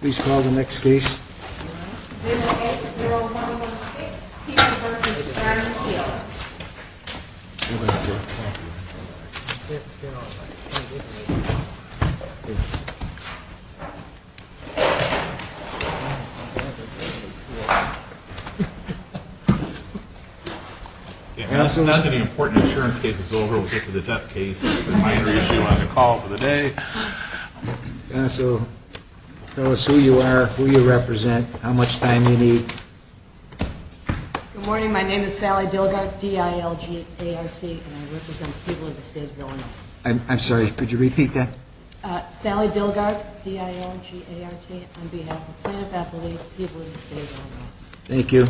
Please call the next case. 080116, Peter v. Darren Hill. Now that the important insurance case is over, we'll get to the death case. The minor issue on the call for the day. Tell us who you are, who you represent, how much time you need. Good morning, my name is Sally Dilgart, D-I-L-G-A-R-T, and I represent the people of the state of Illinois. I'm sorry, could you repeat that? Sally Dilgart, D-I-L-G-A-R-T, on behalf of the plaintiff's affiliate, the people of the state of Illinois. Thank you.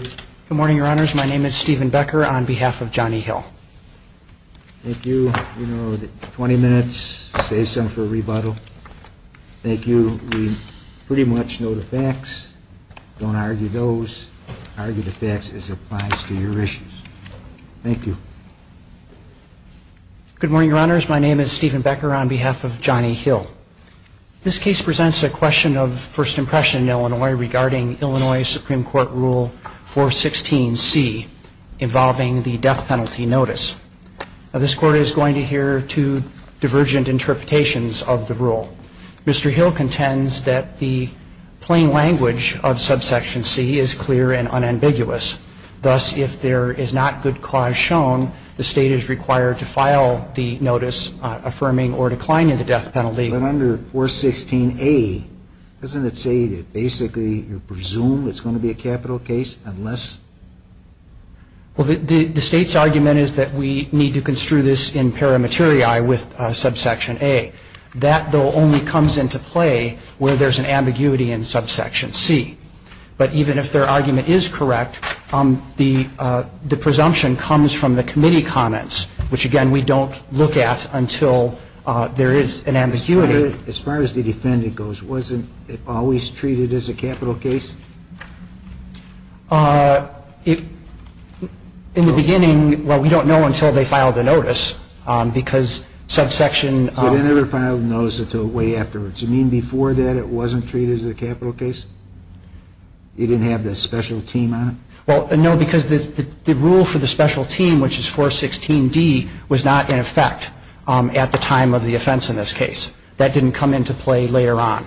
Good morning, your honors. My name is Stephen Becker, on behalf of Johnny Hill. Thank you. We know that 20 minutes saves some for rebuttal. Thank you. We pretty much know the facts. Don't argue those. Argue the facts as it applies to your issues. Thank you. Good morning, your honors. My name is Stephen Becker, on behalf of Johnny Hill. This case presents a question of first impression in Illinois regarding Illinois Supreme Court Rule 416C, involving the death penalty notice. Now, this court is going to hear two divergent interpretations of the rule. Mr. Hill contends that the plain language of subsection C is clear and unambiguous. Thus, if there is not good cause shown, the state is required to file the notice affirming or declining the death penalty. But under 416A, doesn't it say that basically you presume it's going to be a capital case unless? Well, the state's argument is that we need to construe this in paramateriae with subsection A. That, though, only comes into play where there's an ambiguity in subsection C. But even if their argument is correct, the presumption comes from the committee comments, which, again, we don't look at until there is an ambiguity. As far as the defendant goes, wasn't it always treated as a capital case? In the beginning, well, we don't know until they file the notice, because subsection ---- They never filed the notice until way afterwards. You mean before that it wasn't treated as a capital case? You didn't have the special team on it? Well, no, because the rule for the special team, which is 416D, was not in effect at the time of the offense in this case. That didn't come into play later on.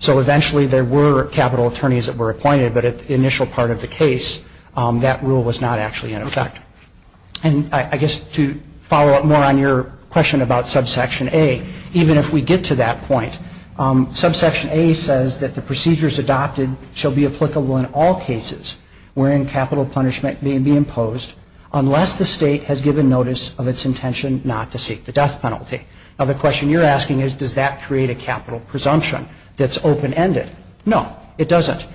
So eventually there were capital attorneys that were appointed, but at the initial part of the case, that rule was not actually in effect. And I guess to follow up more on your question about subsection A, even if we get to that point, subsection A says that the procedures adopted shall be applicable in all cases wherein capital punishment may be imposed unless the State has given notice of its intention not to seek the death penalty. Now, the question you're asking is, does that create a capital presumption that's open-ended? No, it doesn't.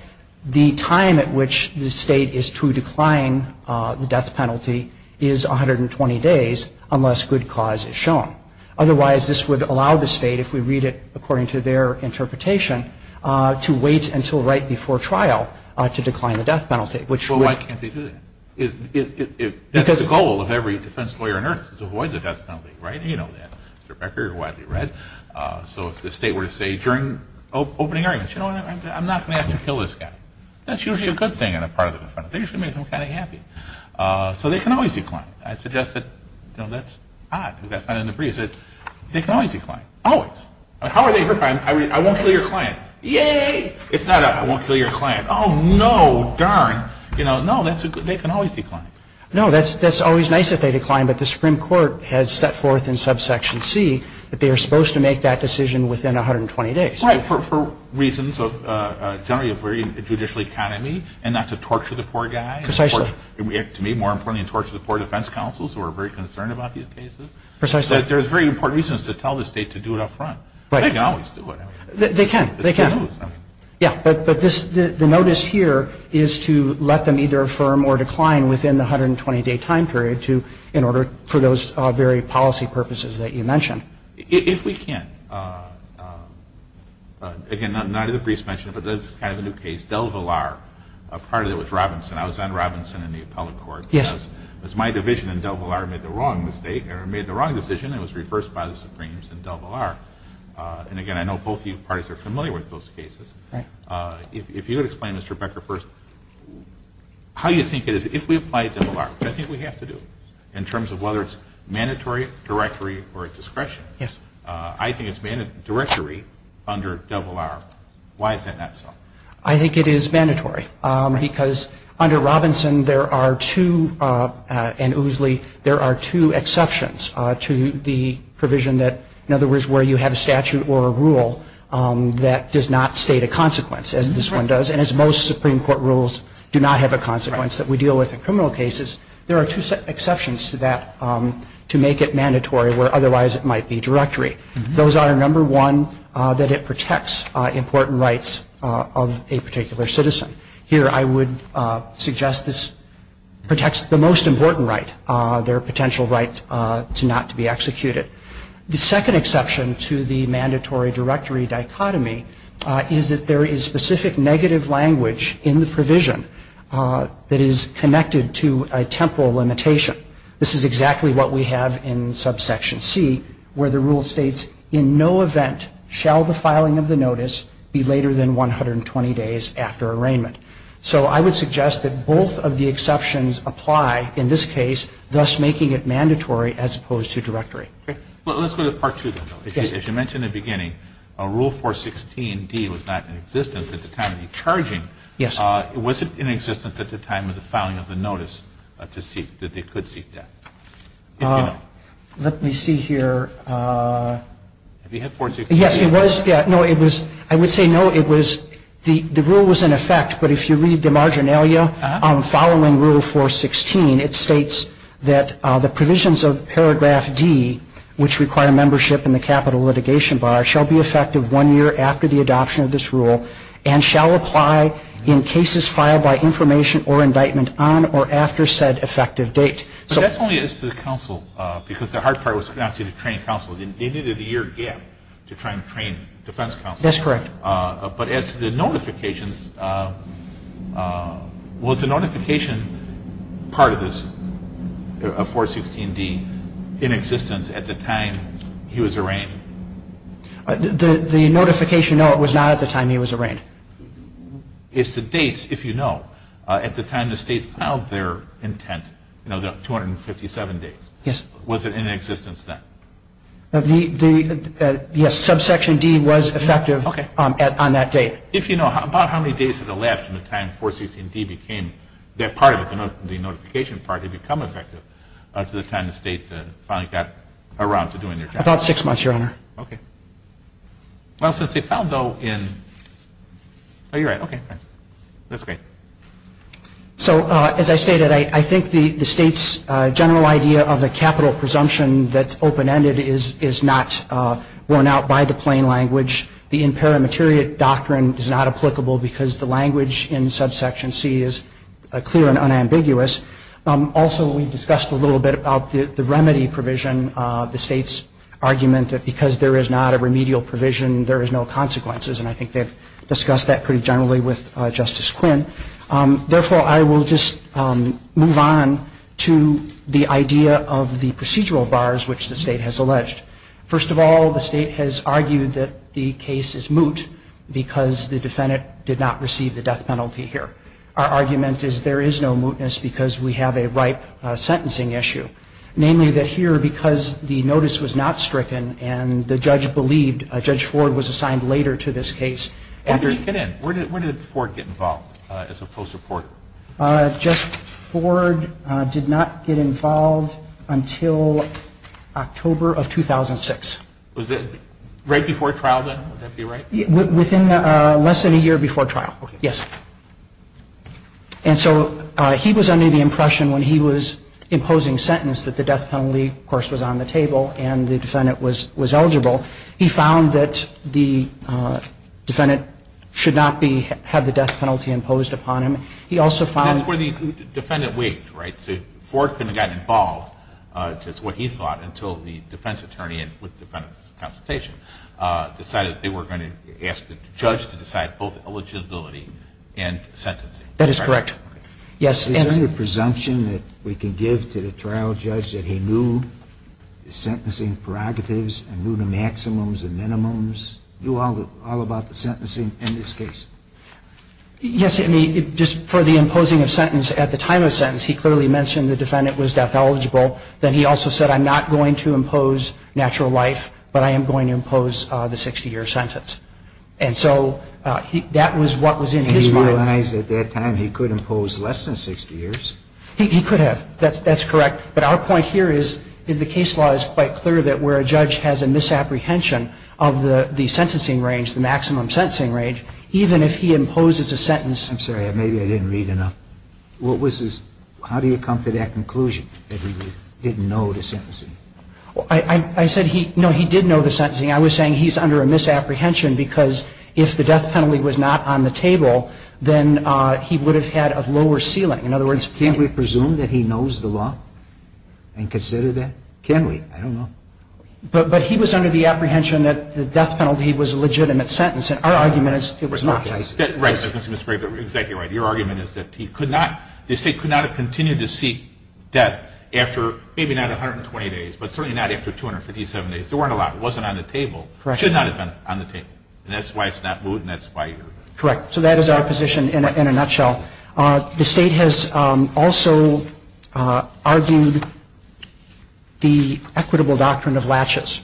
The time at which the State is to decline the death penalty is 120 days unless good cause is shown. Otherwise, this would allow the State, if we read it according to their interpretation, to wait until right before trial to decline the death penalty, which would... Well, why can't they do that? That's the goal of every defense lawyer on earth is to avoid the death penalty, right? You know that, Mr. Becker, you've read. So if the State were to say during opening arguments, you know what, I'm not going to have to kill this guy. That's usually a good thing on the part of the defendant. They usually make them kind of happy. So they can always decline. I suggest that, you know, that's odd. That's not in the briefs. They can always decline. Always. How are they hurt by it? I won't kill your client. Yay! It's not a I won't kill your client. Oh, no, darn. You know, no, they can always decline. No, that's always nice if they decline, but the Supreme Court has set forth in subsection C that they are supposed to make that decision within 120 days. Right, for reasons generally of a judicial economy and not to torture the poor guy. Precisely. To me, more importantly, to torture the poor defense counsels who are very concerned about these cases. Precisely. There's very important reasons to tell the State to do it up front. Right. They can always do it. They can. It's good news. Yeah, but the notice here is to let them either affirm or decline within the 120-day time period in order for those very policy purposes that you mentioned. If we can. Again, not in the briefs mentioned, but this is kind of a new case. DelVillar. Part of it was Robinson. I was on Robinson in the appellate court. Yes. Because my division in DelVillar made the wrong decision and it was reversed by the Supremes in DelVillar. And, again, I know both of you parties are familiar with those cases. Right. If you could explain, Mr. Becker, first, how you think it is, if we apply DelVillar, which I think we have to do in terms of whether it's mandatory, directory, or discretion. Yes. I think it's mandatory under DelVillar. Why is that not so? I think it is mandatory because under Robinson there are two, and Ousley, there are two exceptions to the provision that, in other words, where you have a statute or a rule that does not state a consequence, as this one does, and as most Supreme Court rules do not have a consequence that we deal with in criminal cases, there are two exceptions to that to make it mandatory where otherwise it might be directory. Those are, number one, that it protects important rights of a particular citizen. Here I would suggest this protects the most important right, their potential right not to be executed. The second exception to the mandatory directory dichotomy is that there is specific negative language in the provision that is connected to a temporal limitation. This is exactly what we have in subsection C where the rule states, in no event shall the filing of the notice be later than 120 days after arraignment. So I would suggest that both of the exceptions apply in this case, thus making it mandatory as opposed to directory. Okay. Well, let's go to Part 2 then, though. Yes. As you mentioned in the beginning, Rule 416D was not in existence at the time of the charging. Yes. Was it in existence at the time of the filing of the notice that they could seek death? If you know. Let me see here. Have you had 416? Yes, it was. No, it was. I would say no, it was. The rule was in effect, but if you read the marginalia following Rule 416, it states that the provisions of Paragraph D, which require membership in the capital litigation bar, shall be effective one year after the adoption of this rule and shall apply in cases filed by information or indictment on or after said effective date. But that's only as to the counsel, because the hard part was to train counsel. They needed a year gap to try and train defense counsel. That's correct. But as to the notifications, was the notification part of this, of 416D, in existence at the time he was arraigned? The notification, no, it was not at the time he was arraigned. As to dates, if you know, at the time the state filed their intent, you know, the 257 days. Yes. Was it in existence then? Yes, Subsection D was effective on that date. If you know, about how many days did it last from the time 416D became, that part of it, the notification part, had become effective to the time the state finally got around to doing their job? About six months, Your Honor. Okay. Well, since they filed, though, in, oh, you're right. Okay. That's great. So, as I stated, I think the state's general idea of the capital presumption that's open-ended is not worn out by the plain language. The imperimateriate doctrine is not applicable because the language in Subsection C is clear and unambiguous. Also, we discussed a little bit about the remedy provision, the state's argument that because there is not a remedial provision, there is no consequences, and I think they've discussed that pretty generally with Justice Quinn. Therefore, I will just move on to the idea of the procedural bars which the state has alleged. First of all, the state has argued that the case is moot because the defendant did not receive the death penalty here. Our argument is there is no mootness because we have a ripe sentencing issue, namely that here because the notice was not stricken and the judge believed Judge Ford was assigned later to this case. When did he get in? When did Ford get involved as a post-reporter? Justice Ford did not get involved until October of 2006. Was it right before trial then? Would that be right? Within less than a year before trial. Okay. Yes. And so he was under the impression when he was imposing sentence that the death penalty, of course, was on the table and the defendant was eligible. He found that the defendant should not have the death penalty imposed upon him. He also found – That's where the defendant weighed, right? So Ford couldn't have gotten involved, it's what he thought, until the defense attorney with defendant's consultation decided they were going to ask the judge to decide both eligibility and sentencing. That is correct. Yes. Is there any presumption that we can give to the trial judge that he knew the sentencing prerogatives and knew the maximums and minimums, knew all about the sentencing in this case? Yes. Just for the imposing of sentence at the time of sentence, he clearly mentioned the defendant was death eligible. Then he also said, I'm not going to impose natural life, but I am going to impose the 60-year sentence. And so that was what was in his mind. Did he realize at that time he could impose less than 60 years? He could have. That's correct. But our point here is the case law is quite clear that where a judge has a misapprehension of the sentencing range, the maximum sentencing range, even if he imposes a sentence I'm sorry. Maybe I didn't read enough. What was his – how do you come to that conclusion that he didn't know the sentencing? I said he – no, he did know the sentencing. I was saying he's under a misapprehension because if the death penalty was not on the table, then he would have had a lower ceiling. In other words – Can't we presume that he knows the law and consider that? Can we? I don't know. But he was under the apprehension that the death penalty was a legitimate sentence. And our argument is it was not. Right. That's exactly right. Your argument is that he could not – the State could not have continued to seek death after maybe not 120 days, but certainly not after 257 days. There weren't a lot. It wasn't on the table. Correct. It should not have been on the table. And that's why it's not moved, and that's why you're – Correct. So that is our position in a nutshell. The State has also argued the equitable doctrine of latches.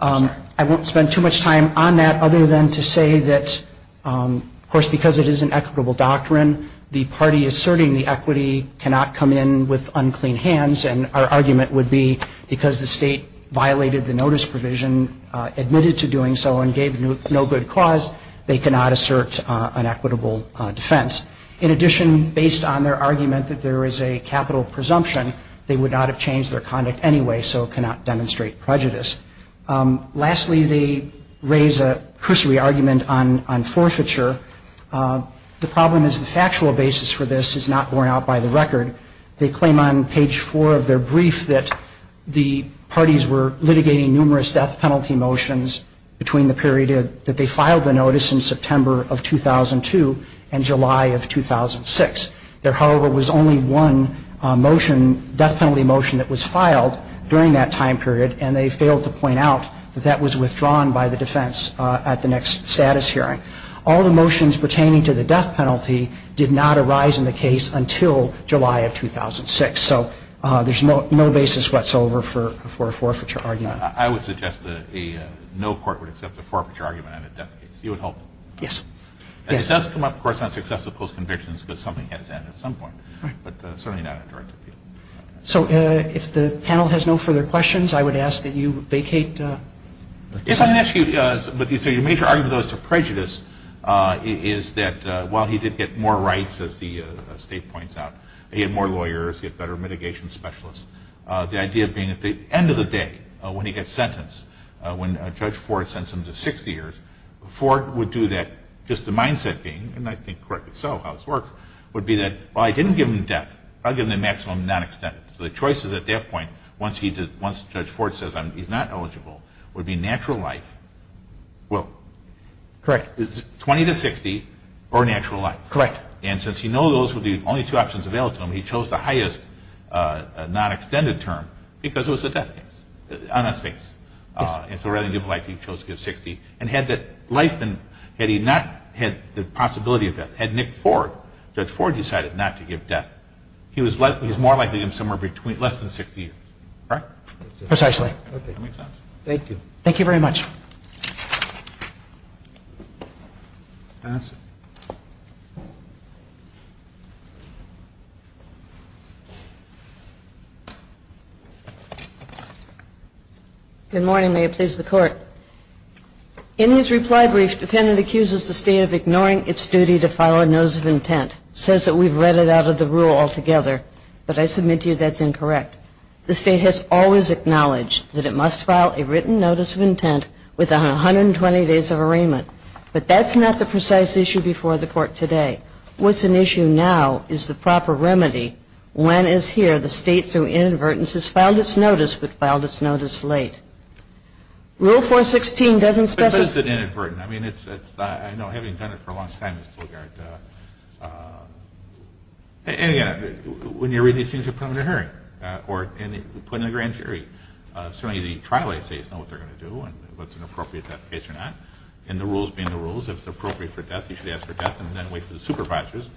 I won't spend too much time on that other than to say that, of course, because it is an equitable doctrine, the party asserting the equity cannot come in with unclean hands, and our argument would be because the State violated the notice provision, admitted to doing so, and gave no good cause, they cannot assert an equitable defense. In addition, based on their argument that there is a capital presumption, they would not have changed their conduct anyway, so it cannot demonstrate prejudice. Lastly, they raise a cursory argument on forfeiture. The problem is the factual basis for this is not borne out by the record. They claim on page 4 of their brief that the parties were litigating numerous death penalty motions between the period that they filed the notice in September of 2002 and July of 2006. There, however, was only one motion, death penalty motion that was filed during that time period, and they failed to point out that that was withdrawn by the defense at the next status hearing. All the motions pertaining to the death penalty did not arise in the case until July of 2006. So there's no basis whatsoever for a forfeiture argument. I would suggest that no court would accept a forfeiture argument on a death case. You would hope? Yes. And this does come up, of course, on successive post-convictions because something has to end at some point. Right. But certainly not a direct appeal. So if the panel has no further questions, I would ask that you vacate. If I may ask you, but your major argument, though, as to prejudice is that while he did get more rights, as the state points out, he had more lawyers, he had better mitigation specialists, the idea of being at the end of the day when he gets sentenced, when Judge Ford sends him to 60 years, Ford would do that just the mindset being, and I think correctly so how this works, would be that, well, I didn't give him death. I'll give him the maximum non-extent. So the choices at that point, once Judge Ford says he's not eligible, would be natural life. Well, correct. 20 to 60 or natural life. Correct. And since he knows those would be the only two options available to him, he chose the highest non-extended term because it was a death case on that state. Yes. And so rather than give life, he chose to give 60. And had that life been, had he not had the possibility of death, had Nick Ford, Judge Ford decided not to give death, he was more likely to give him somewhere less than 60 years. Correct? Precisely. Okay. That makes sense. Thank you. Thank you very much. Good morning. May it please the Court. In his reply brief, defendant accuses the state of ignoring its duty to file a notice of intent, says that we've read it out of the rule altogether, but I submit to you that's incorrect. The state has always acknowledged that it must file a written notice of intent within 120 days of arraignment. But that's not the precise issue before the Court today. What's an issue now is the proper remedy when, as here, the state, through inadvertence, has filed its notice but filed its notice late. Rule 416 doesn't specify. But it's an inadvertent. I mean, it's, I know, having done it for a long time, Ms. Plowgard, and, again, when you read these things, you're probably in a hurry. Or put it in the grand jury. Certainly the trial assays know what they're going to do and what's an appropriate death case or not. And the rules being the rules, if it's appropriate for death, you should ask for death and then wait for the supervisors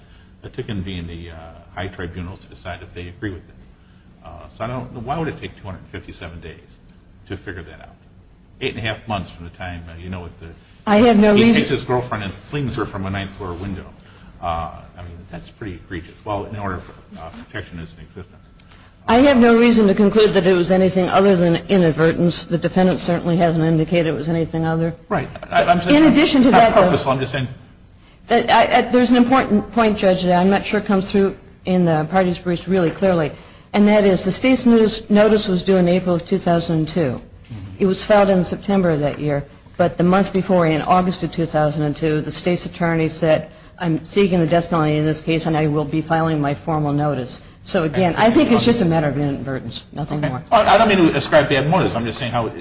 to convene the high tribunals to decide if they agree with it. So I don't know. Why would it take 257 days to figure that out? Eight and a half months from the time, you know, he takes his girlfriend and flings her from a ninth-floor window. I mean, that's pretty egregious. Well, in order of protection, it's in existence. I have no reason to conclude that it was anything other than inadvertence. The defendant certainly hasn't indicated it was anything other. Right. In addition to that, though. I'm saying it's not purposeful. I'm just saying. There's an important point, Judge, that I'm not sure comes through in the parties' briefs really clearly. And that is the state's notice was due in April of 2002. It was filed in September of that year. But the month before, in August of 2002, the state's attorney said, I'm seeking the death penalty in this case and I will be filing my formal notice. So, again, I think it's just a matter of inadvertence. Nothing more. I don't mean to ascribe bad motives. I'm just saying I don't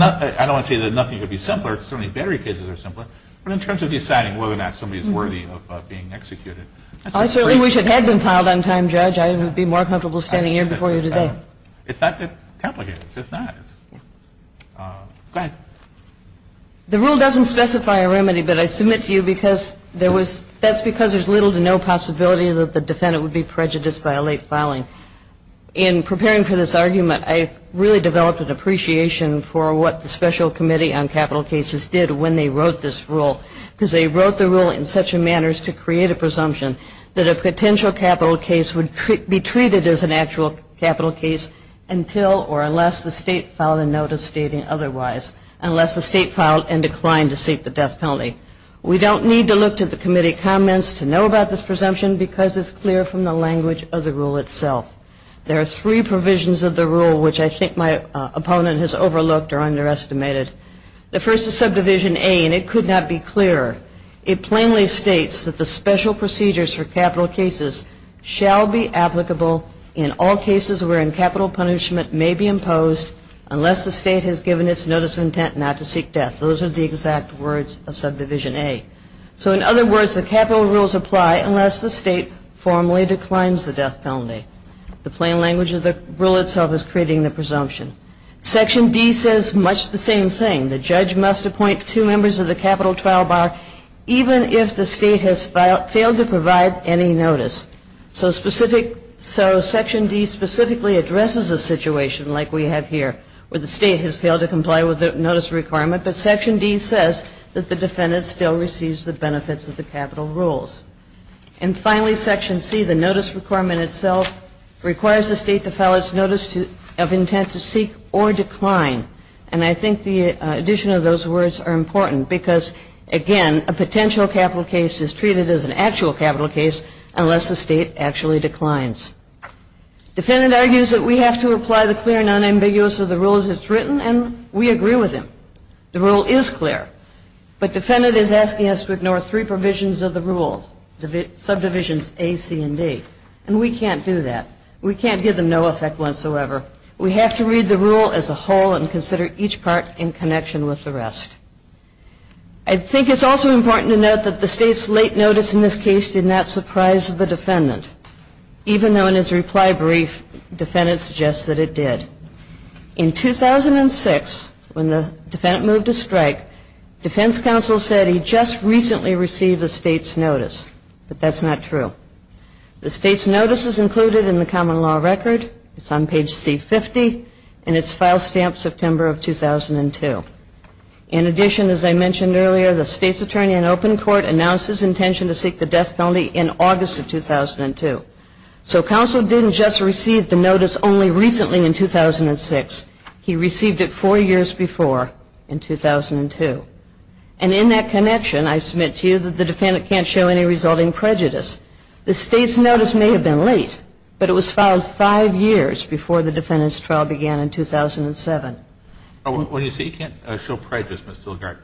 want to say that nothing could be simpler because certainly battery cases are simpler. But in terms of deciding whether or not somebody is worthy of being executed. I certainly wish it had been filed on time, Judge. I would be more comfortable standing here before you today. It's not that complicated. It's not. Go ahead. The rule doesn't specify a remedy, but I submit to you because that's because there's little to no possibility that the defendant would be prejudiced by a late filing. In preparing for this argument, I really developed an appreciation for what the Special Committee on Capital Cases did when they wrote this rule because they wrote the rule in such a manner as to create a presumption that a potential capital case would be treated as an actual capital case until or unless the state filed and declined to seek the death penalty. We don't need to look to the committee comments to know about this presumption because it's clear from the language of the rule itself. There are three provisions of the rule, which I think my opponent has overlooked or underestimated. The first is Subdivision A, and it could not be clearer. It plainly states that the special procedures for capital cases shall be applicable in all cases wherein capital punishment may be imposed unless the state has filed and declined to seek death. Those are the exact words of Subdivision A. So in other words, the capital rules apply unless the state formally declines the death penalty. The plain language of the rule itself is creating the presumption. Section D says much the same thing. The judge must appoint two members of the capital trial bar even if the state has failed to provide any notice. So Section D specifically addresses a situation like we have here where the state has failed to comply with the notice requirement, but Section D says that the defendant still receives the benefits of the capital rules. And finally, Section C, the notice requirement itself requires the state to file its notice of intent to seek or decline. And I think the addition of those words are important because, again, a potential capital case is treated as an actual capital case unless the state actually declines. Defendant argues that we have to apply the clear and unambiguous of the rules as it's written, and we agree with him. The rule is clear. But defendant is asking us to ignore three provisions of the rule, subdivisions A, C, and D. And we can't do that. We can't give them no effect whatsoever. We have to read the rule as a whole and consider each part in connection with the rest. I think it's also important to note that the state's late notice in this case did not surprise the defendant. Even though in his reply brief, defendant suggests that it did. In 2006, when the defendant moved to strike, defense counsel said he just recently received the state's notice. But that's not true. The state's notice is included in the common law record. It's on page C-50. And it's file stamped September of 2002. In addition, as I mentioned earlier, the state's attorney in open court announced his intention to seek the death penalty in August of 2002. So counsel didn't just receive the notice only recently in 2006. He received it four years before in 2002. And in that connection, I submit to you that the defendant can't show any resulting prejudice. The state's notice may have been late, but it was filed five years before the defendant's trial began in 2007. What do you say? He can't show prejudice, Ms. Dillgart.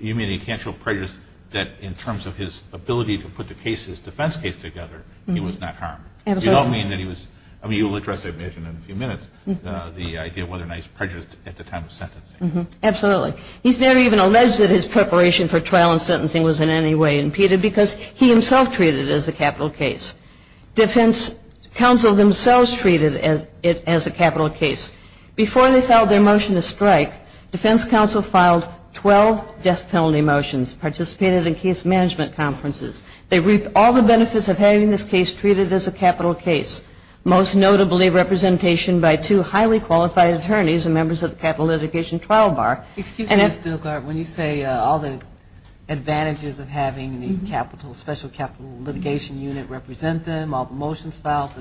You mean he can't show prejudice that in terms of his ability to put the case, his defense case together, he was not harmed. Absolutely. You don't mean that he was, I mean, you'll address, I imagine, in a few minutes, the idea of whether or not he's prejudiced at the time of sentencing. Absolutely. He's never even alleged that his preparation for trial and sentencing was in any way impeded because he himself treated it as a capital case. Defense counsel themselves treated it as a capital case. Before they filed their motion to strike, defense counsel filed 12 death penalty motions, participated in case management conferences. They reaped all the benefits of having this case treated as a capital case, most notably representation by two highly qualified attorneys and members of the capital litigation trial bar. Excuse me, Ms. Dillgart. When you say all the advantages of having the special capital litigation unit represent them, all the motions filed,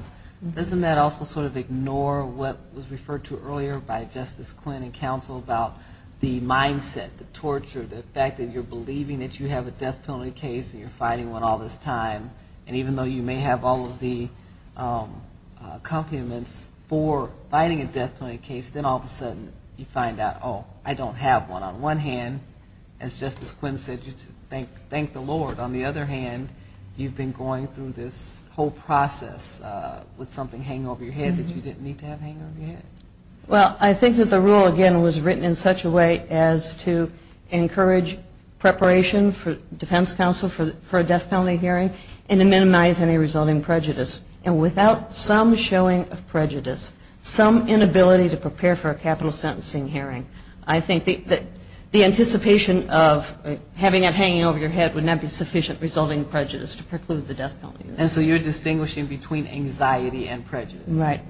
doesn't that also sort of ignore what was referred to earlier by Justice Quinn and counsel about the mindset, the torture, the fact that you're believing that you have a death penalty case and you're fighting one all this time, and even though you may have all of the complements for fighting a death penalty case, then all of a sudden you find out, oh, I don't have one. On one hand, as Justice Quinn said, thank the Lord. On the other hand, you've been going through this whole process with something hanging over your head that you didn't need to have hanging over your head. Well, I think that the rule, again, was written in such a way as to encourage preparation for defense counsel for a death penalty hearing and to minimize any resulting prejudice. And without some showing of prejudice, some inability to prepare for a capital sentencing hearing, I think that the anticipation of having it hanging over your head would not be sufficient resulting prejudice to preclude the death penalty. And so you're distinguishing between anxiety and prejudice. Right.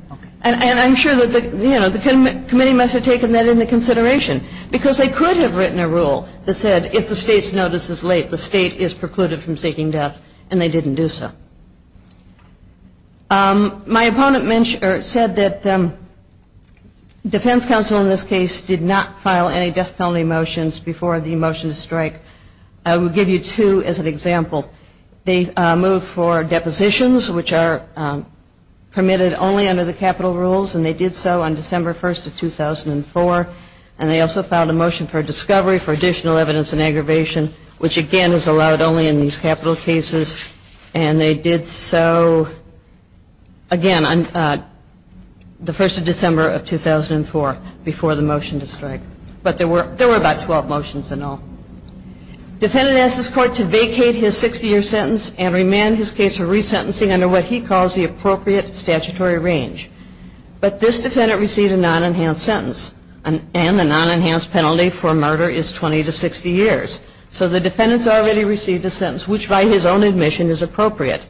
And I'm sure that the committee must have taken that into consideration because they could have written a rule that said if the state's notice is late, the state is precluded from seeking death, and they didn't do so. My opponent said that defense counsel in this case did not file any death penalty motions before the motion to strike. I will give you two as an example. They moved for depositions, which are permitted only under the capital rules, and they did so on December 1st of 2004. And they also filed a motion for discovery for additional evidence in aggravation, which, again, is allowed only in these capital cases. And they did so, again, on the 1st of December of 2004 before the motion to strike. But there were about 12 motions in all. Defendant asked this court to vacate his 60-year sentence and remand his case for resentencing under what he calls the appropriate statutory range. But this defendant received a non-enhanced sentence, and the non-enhanced penalty for murder is 20 to 60 years. So the defendant's already received a sentence, which by his own admission is appropriate.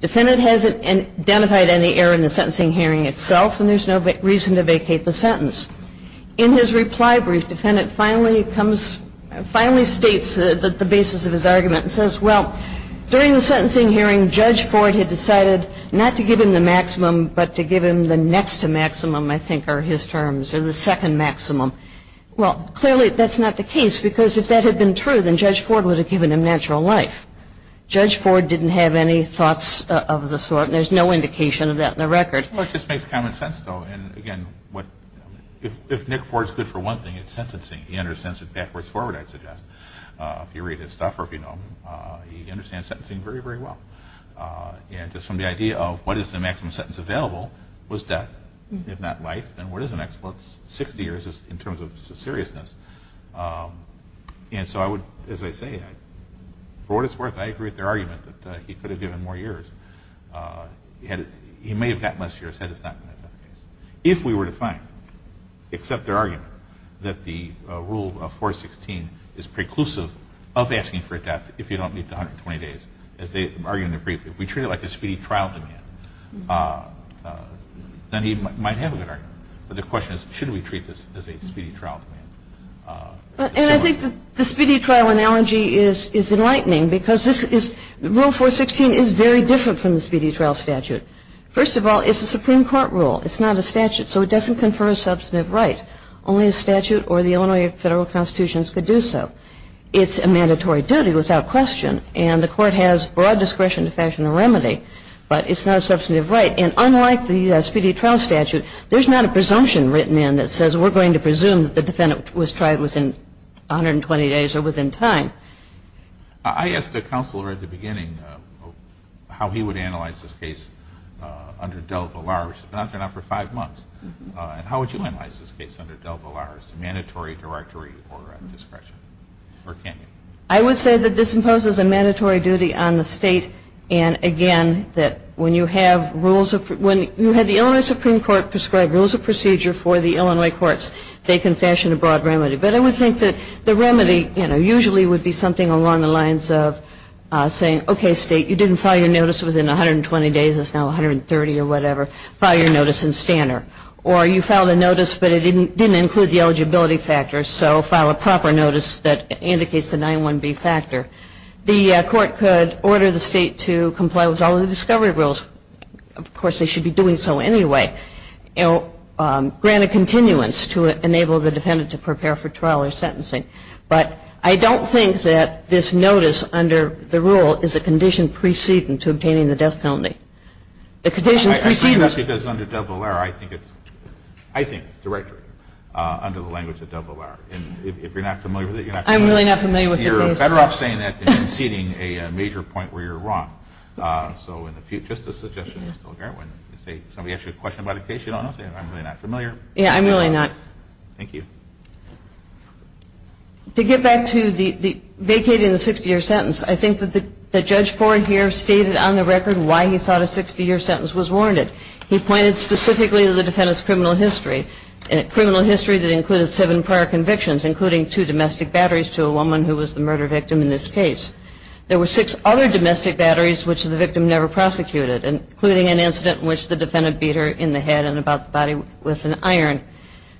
Defendant hasn't identified any error in the sentencing hearing itself, and there's no reason to vacate the sentence. In his reply brief, defendant finally states the basis of his argument and says, well, during the sentencing hearing, Judge Ford had decided not to give him the maximum but to give him the next to maximum, I think, are his terms, or the second maximum. Well, clearly that's not the case, because if that had been true then Judge Ford would have given him natural life. Judge Ford didn't have any thoughts of the sort, and there's no indication of that in the record. Well, it just makes common sense, though. And, again, if Nick Ford's good for one thing, it's sentencing. He understands it backwards forward, I'd suggest. If you read his stuff or if you know him, he understands sentencing very, very well. And just from the idea of what is the maximum sentence available was death, if not life, then what is the next? Well, it's 60 years in terms of seriousness. And so I would, as I say, for what it's worth, I agree with their argument that he could have given more years. He may have gotten less years had it not been a death case. If we were to find, except their argument, that the rule of 416 is preclusive of asking for a death if you don't meet the 120 days, as they argue in their brief, if we treat it like a speedy trial demand, then he might have a good argument. But the question is, should we treat this as a speedy trial demand? And I think the speedy trial analogy is enlightening, because this is rule 416 is very different from the speedy trial statute. First of all, it's a Supreme Court rule. It's not a statute. So it doesn't confer a substantive right. Only a statute or the Illinois federal constitutions could do so. It's a mandatory duty without question. And the court has broad discretion to fashion a remedy. But it's not a substantive right. And unlike the speedy trial statute, there's not a presumption written in that says we're going to presume that the defendant was tried within 120 days or within time. I asked the counselor at the beginning how he would analyze this case under Del Villar, which has been on for five months. And how would you analyze this case under Del Villar's mandatory directory or discretion? Or can you? I would say that this imposes a mandatory duty on the state. And, again, that when you have rules of – when you have the Illinois Supreme Court prescribe rules of procedure for the Illinois courts, they can fashion a broad remedy. But I would think that the remedy, you know, usually would be something along the lines of saying, okay, state, you didn't file your notice within 120 days. It's now 130 or whatever. File your notice in Stanner. Or you filed a notice, but it didn't include the eligibility factor. So file a proper notice that indicates the 9-1-B factor. The court could order the state to comply with all the discovery rules. Of course, they should be doing so anyway. Grant a continuance to enable the defendant to prepare for trial or sentencing. But I don't think that this notice under the rule is a condition preceding to obtaining the death penalty. The condition is preceding. I think that's because under Del Villar, I think it's – I think it's directory under the language of Del Villar. And if you're not familiar with it, you're not familiar with it. I'm really not familiar with the case. You're better off saying that than conceding a major point where you're wrong. So in the future, just a suggestion, Ms. Kilgarwin, if somebody asks you a question about a case you don't know, say, I'm really not familiar. Yeah, I'm really not. Thank you. To get back to the vacating the 60-year sentence, I think that Judge Ford here stated on the record why he thought a 60-year sentence was warranted. He pointed specifically to the defendant's criminal history, a criminal history that included seven prior convictions, including two domestic batteries to a woman who was the murder victim in this case. There were six other domestic batteries which the victim never prosecuted, including an incident in which the defendant beat her in the head and about the body with an iron.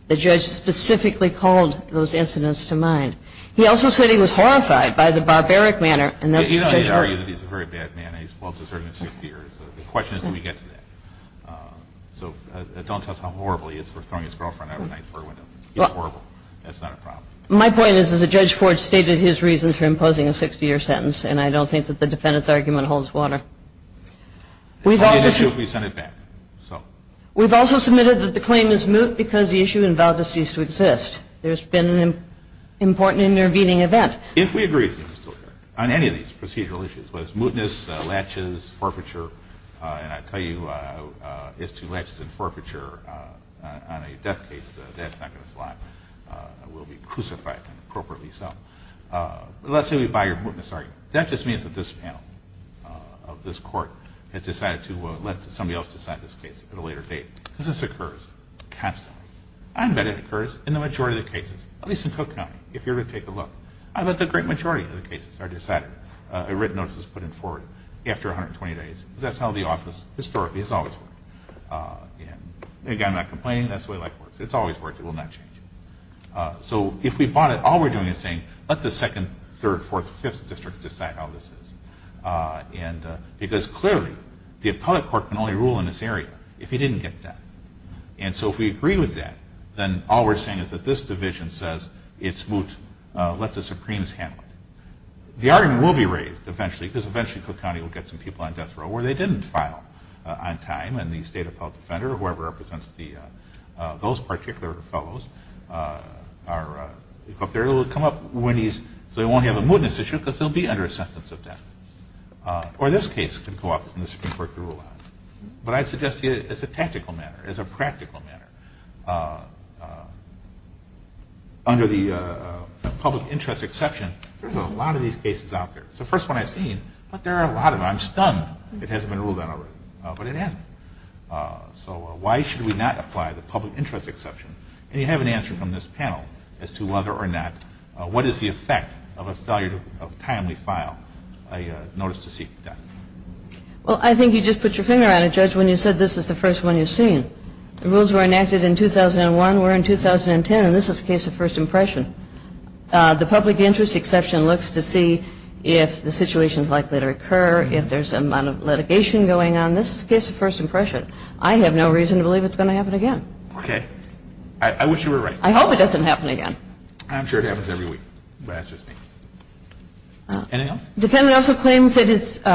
The judge specifically called those incidents to mind. He also said he was horrified by the barbaric manner, and that's Judge Ford. You know he argued that he's a very bad man and he's well-deserved a 60 years. The question is, do we get to that? So don't tell us how horrible he is for throwing his girlfriend out of a nightclub window. He's horrible. That's not a problem. My point is that Judge Ford stated his reasons for imposing a 60-year sentence, and I don't think that the defendant's argument holds water. We've also submitted that the claim is moot because the issue involved a cease-to-exist. There's been an important intervening event. If we agree on any of these procedural issues, whether it's mootness, latches, forfeiture, and I tell you it's two latches and forfeiture on a death case, that's not going to fly. We'll be crucified appropriately so. Let's say we buy your mootness argument. That just means that this panel of this court has decided to let somebody else decide this case at a later date. This occurs constantly. I bet it occurs in the majority of the cases, at least in Cook County, if you ever take a look. I bet the great majority of the cases are decided, written notices put in forward after 120 days. That's how the office historically has always worked. Again, I'm not complaining. That's the way life works. It's always worked. It will not change. So if we bought it, all we're doing is saying, let the second, third, fourth, fifth districts decide how this is. Because clearly, the appellate court can only rule in this area if you didn't get death. So if we agree with that, then all we're saying is that this division says it's moot. Let the Supremes handle it. The argument will be raised eventually because eventually Cook County will get some people on death row where they didn't file on time. And the state appellate defender, whoever represents those particular fellows, will come up when he's – so he won't have a mootness issue because he'll be under a sentence of death. Or this case can go up and the Supreme Court can rule on it. But I suggest to you, as a tactical matter, as a practical matter, under the public interest exception, there's a lot of these cases out there. It's the first one I've seen. But there are a lot of them. I'm stunned it hasn't been ruled on already. But it hasn't. So why should we not apply the public interest exception? And you have an answer from this panel as to whether or not what is the effect of a failure of timely file. I notice to see that. Well, I think you just put your finger on it, Judge, when you said this is the first one you've seen. The rules were enacted in 2001. We're in 2010, and this is a case of first impression. The public interest exception looks to see if the situation is likely to occur, if there's a lot of litigation going on. This is a case of first impression. I have no reason to believe it's going to happen again. Okay. I wish you were right. I hope it doesn't happen again. I'm sure it happens every week, but that's just me. Anything else? The defendant also claims that his –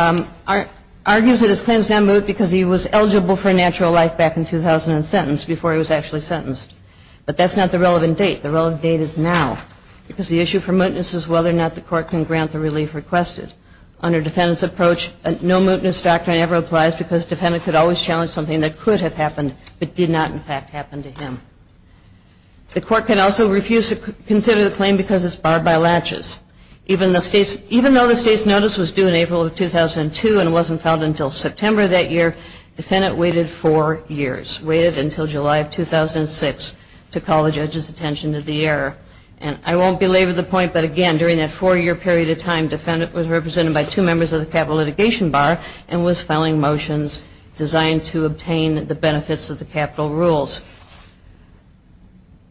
argues that his claim is now moot because he was eligible for a natural life back in 2000 and sentenced before he was actually sentenced. But that's not the relevant date. The relevant date is now because the issue for mootness is whether or not the court can grant the relief requested. Under defendant's approach, no mootness doctrine ever applies because defendant could always challenge something that could have happened but did not, in fact, happen to him. The court can also refuse to consider the claim because it's barred by latches. Even though the state's notice was due in April of 2002 and wasn't filed until September of that year, defendant waited four years, waited until July of 2006 to call the judge's attention to the error. And I won't belabor the point, but, again, during that four-year period of time, defendant was represented by two members of the capital litigation bar and was filing motions designed to obtain the benefits of the capital rules.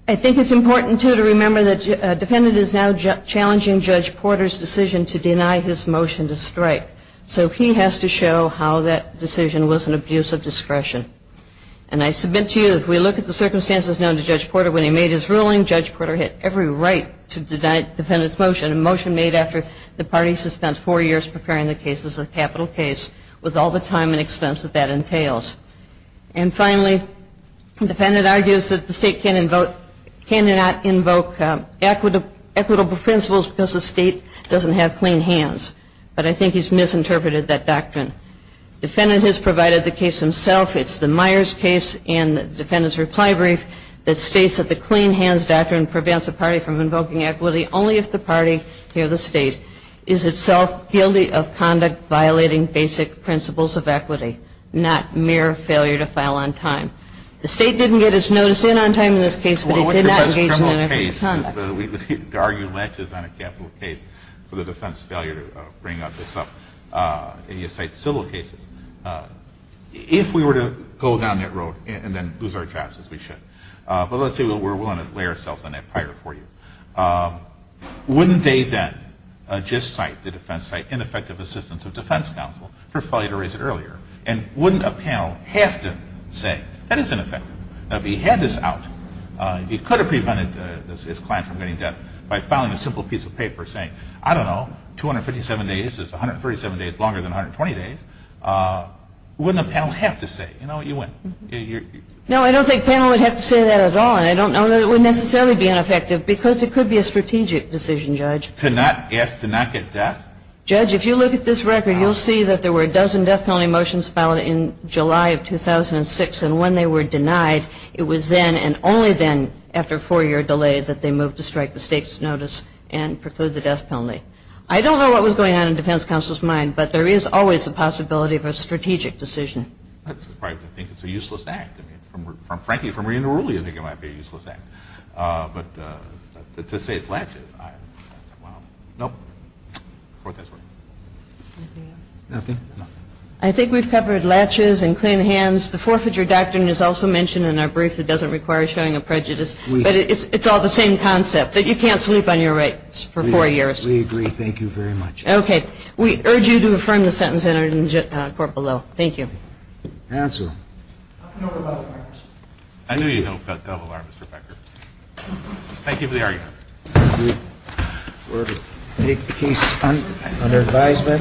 I think it's important, too, to remember that defendant is now challenging Judge Porter's decision to deny his motion to strike. So he has to show how that decision was an abuse of discretion. And I submit to you, if we look at the circumstances known to Judge Porter, when he made his ruling, Judge Porter had every right to deny defendant's motion, a motion made after the party has spent four years preparing the case as a capital case with all the time and expense that that entails. And, finally, defendant argues that the state cannot invoke equitable principles because the state doesn't have clean hands. But I think he's misinterpreted that doctrine. Defendant has provided the case himself. It's the Myers case and defendant's reply brief that states that the clean hands doctrine prevents a party from invoking equity only if the party, here the state, is itself guilty of conduct violating basic principles of equity, not mere failure to file on time. The state didn't get its notice in on time in this case, but it did not engage in equitable conduct. The argument is on a capital case for the defense failure to bring this up. And you cite civil cases. If we were to go down that road and then lose our jobs, as we should, but let's say we're willing to lay ourselves on that pyre for you, wouldn't they then just cite the defense site ineffective assistance of defense counsel for failure to raise it earlier? And wouldn't a panel have to say, that is ineffective. Now, if he had this out, he could have prevented his client from getting death by filing a simple piece of paper saying, I don't know, 257 days is 137 days longer than 120 days. Wouldn't a panel have to say, you know, you win? No, I don't think panel would have to say that at all. And I don't know that it would necessarily be ineffective, because it could be a strategic decision, Judge. To not get death? Judge, if you look at this record, you'll see that there were a dozen death penalty motions filed in July of 2006. And when they were denied, it was then, and only then, after a four-year delay, that they moved to strike the state's notice and preclude the death penalty. I don't know what was going on in defense counsel's mind, but there is always the possibility of a strategic decision. I think it's a useless act. Frankly, from reading the ruling, I think it might be a useless act. But to say it's laches, well, nope. I think we've covered laches and clean hands. The forfeiture doctrine is also mentioned in our brief. It doesn't require showing a prejudice. But it's all the same concept, that you can't sleep on your rights for four years. We agree. Thank you very much. Okay. We urge you to affirm the sentence entered in the court below. Thank you. Counsel. I knew you know what the devil are, Mr. Becker. Thank you for the argument. We will take the case under advisement. Thank you.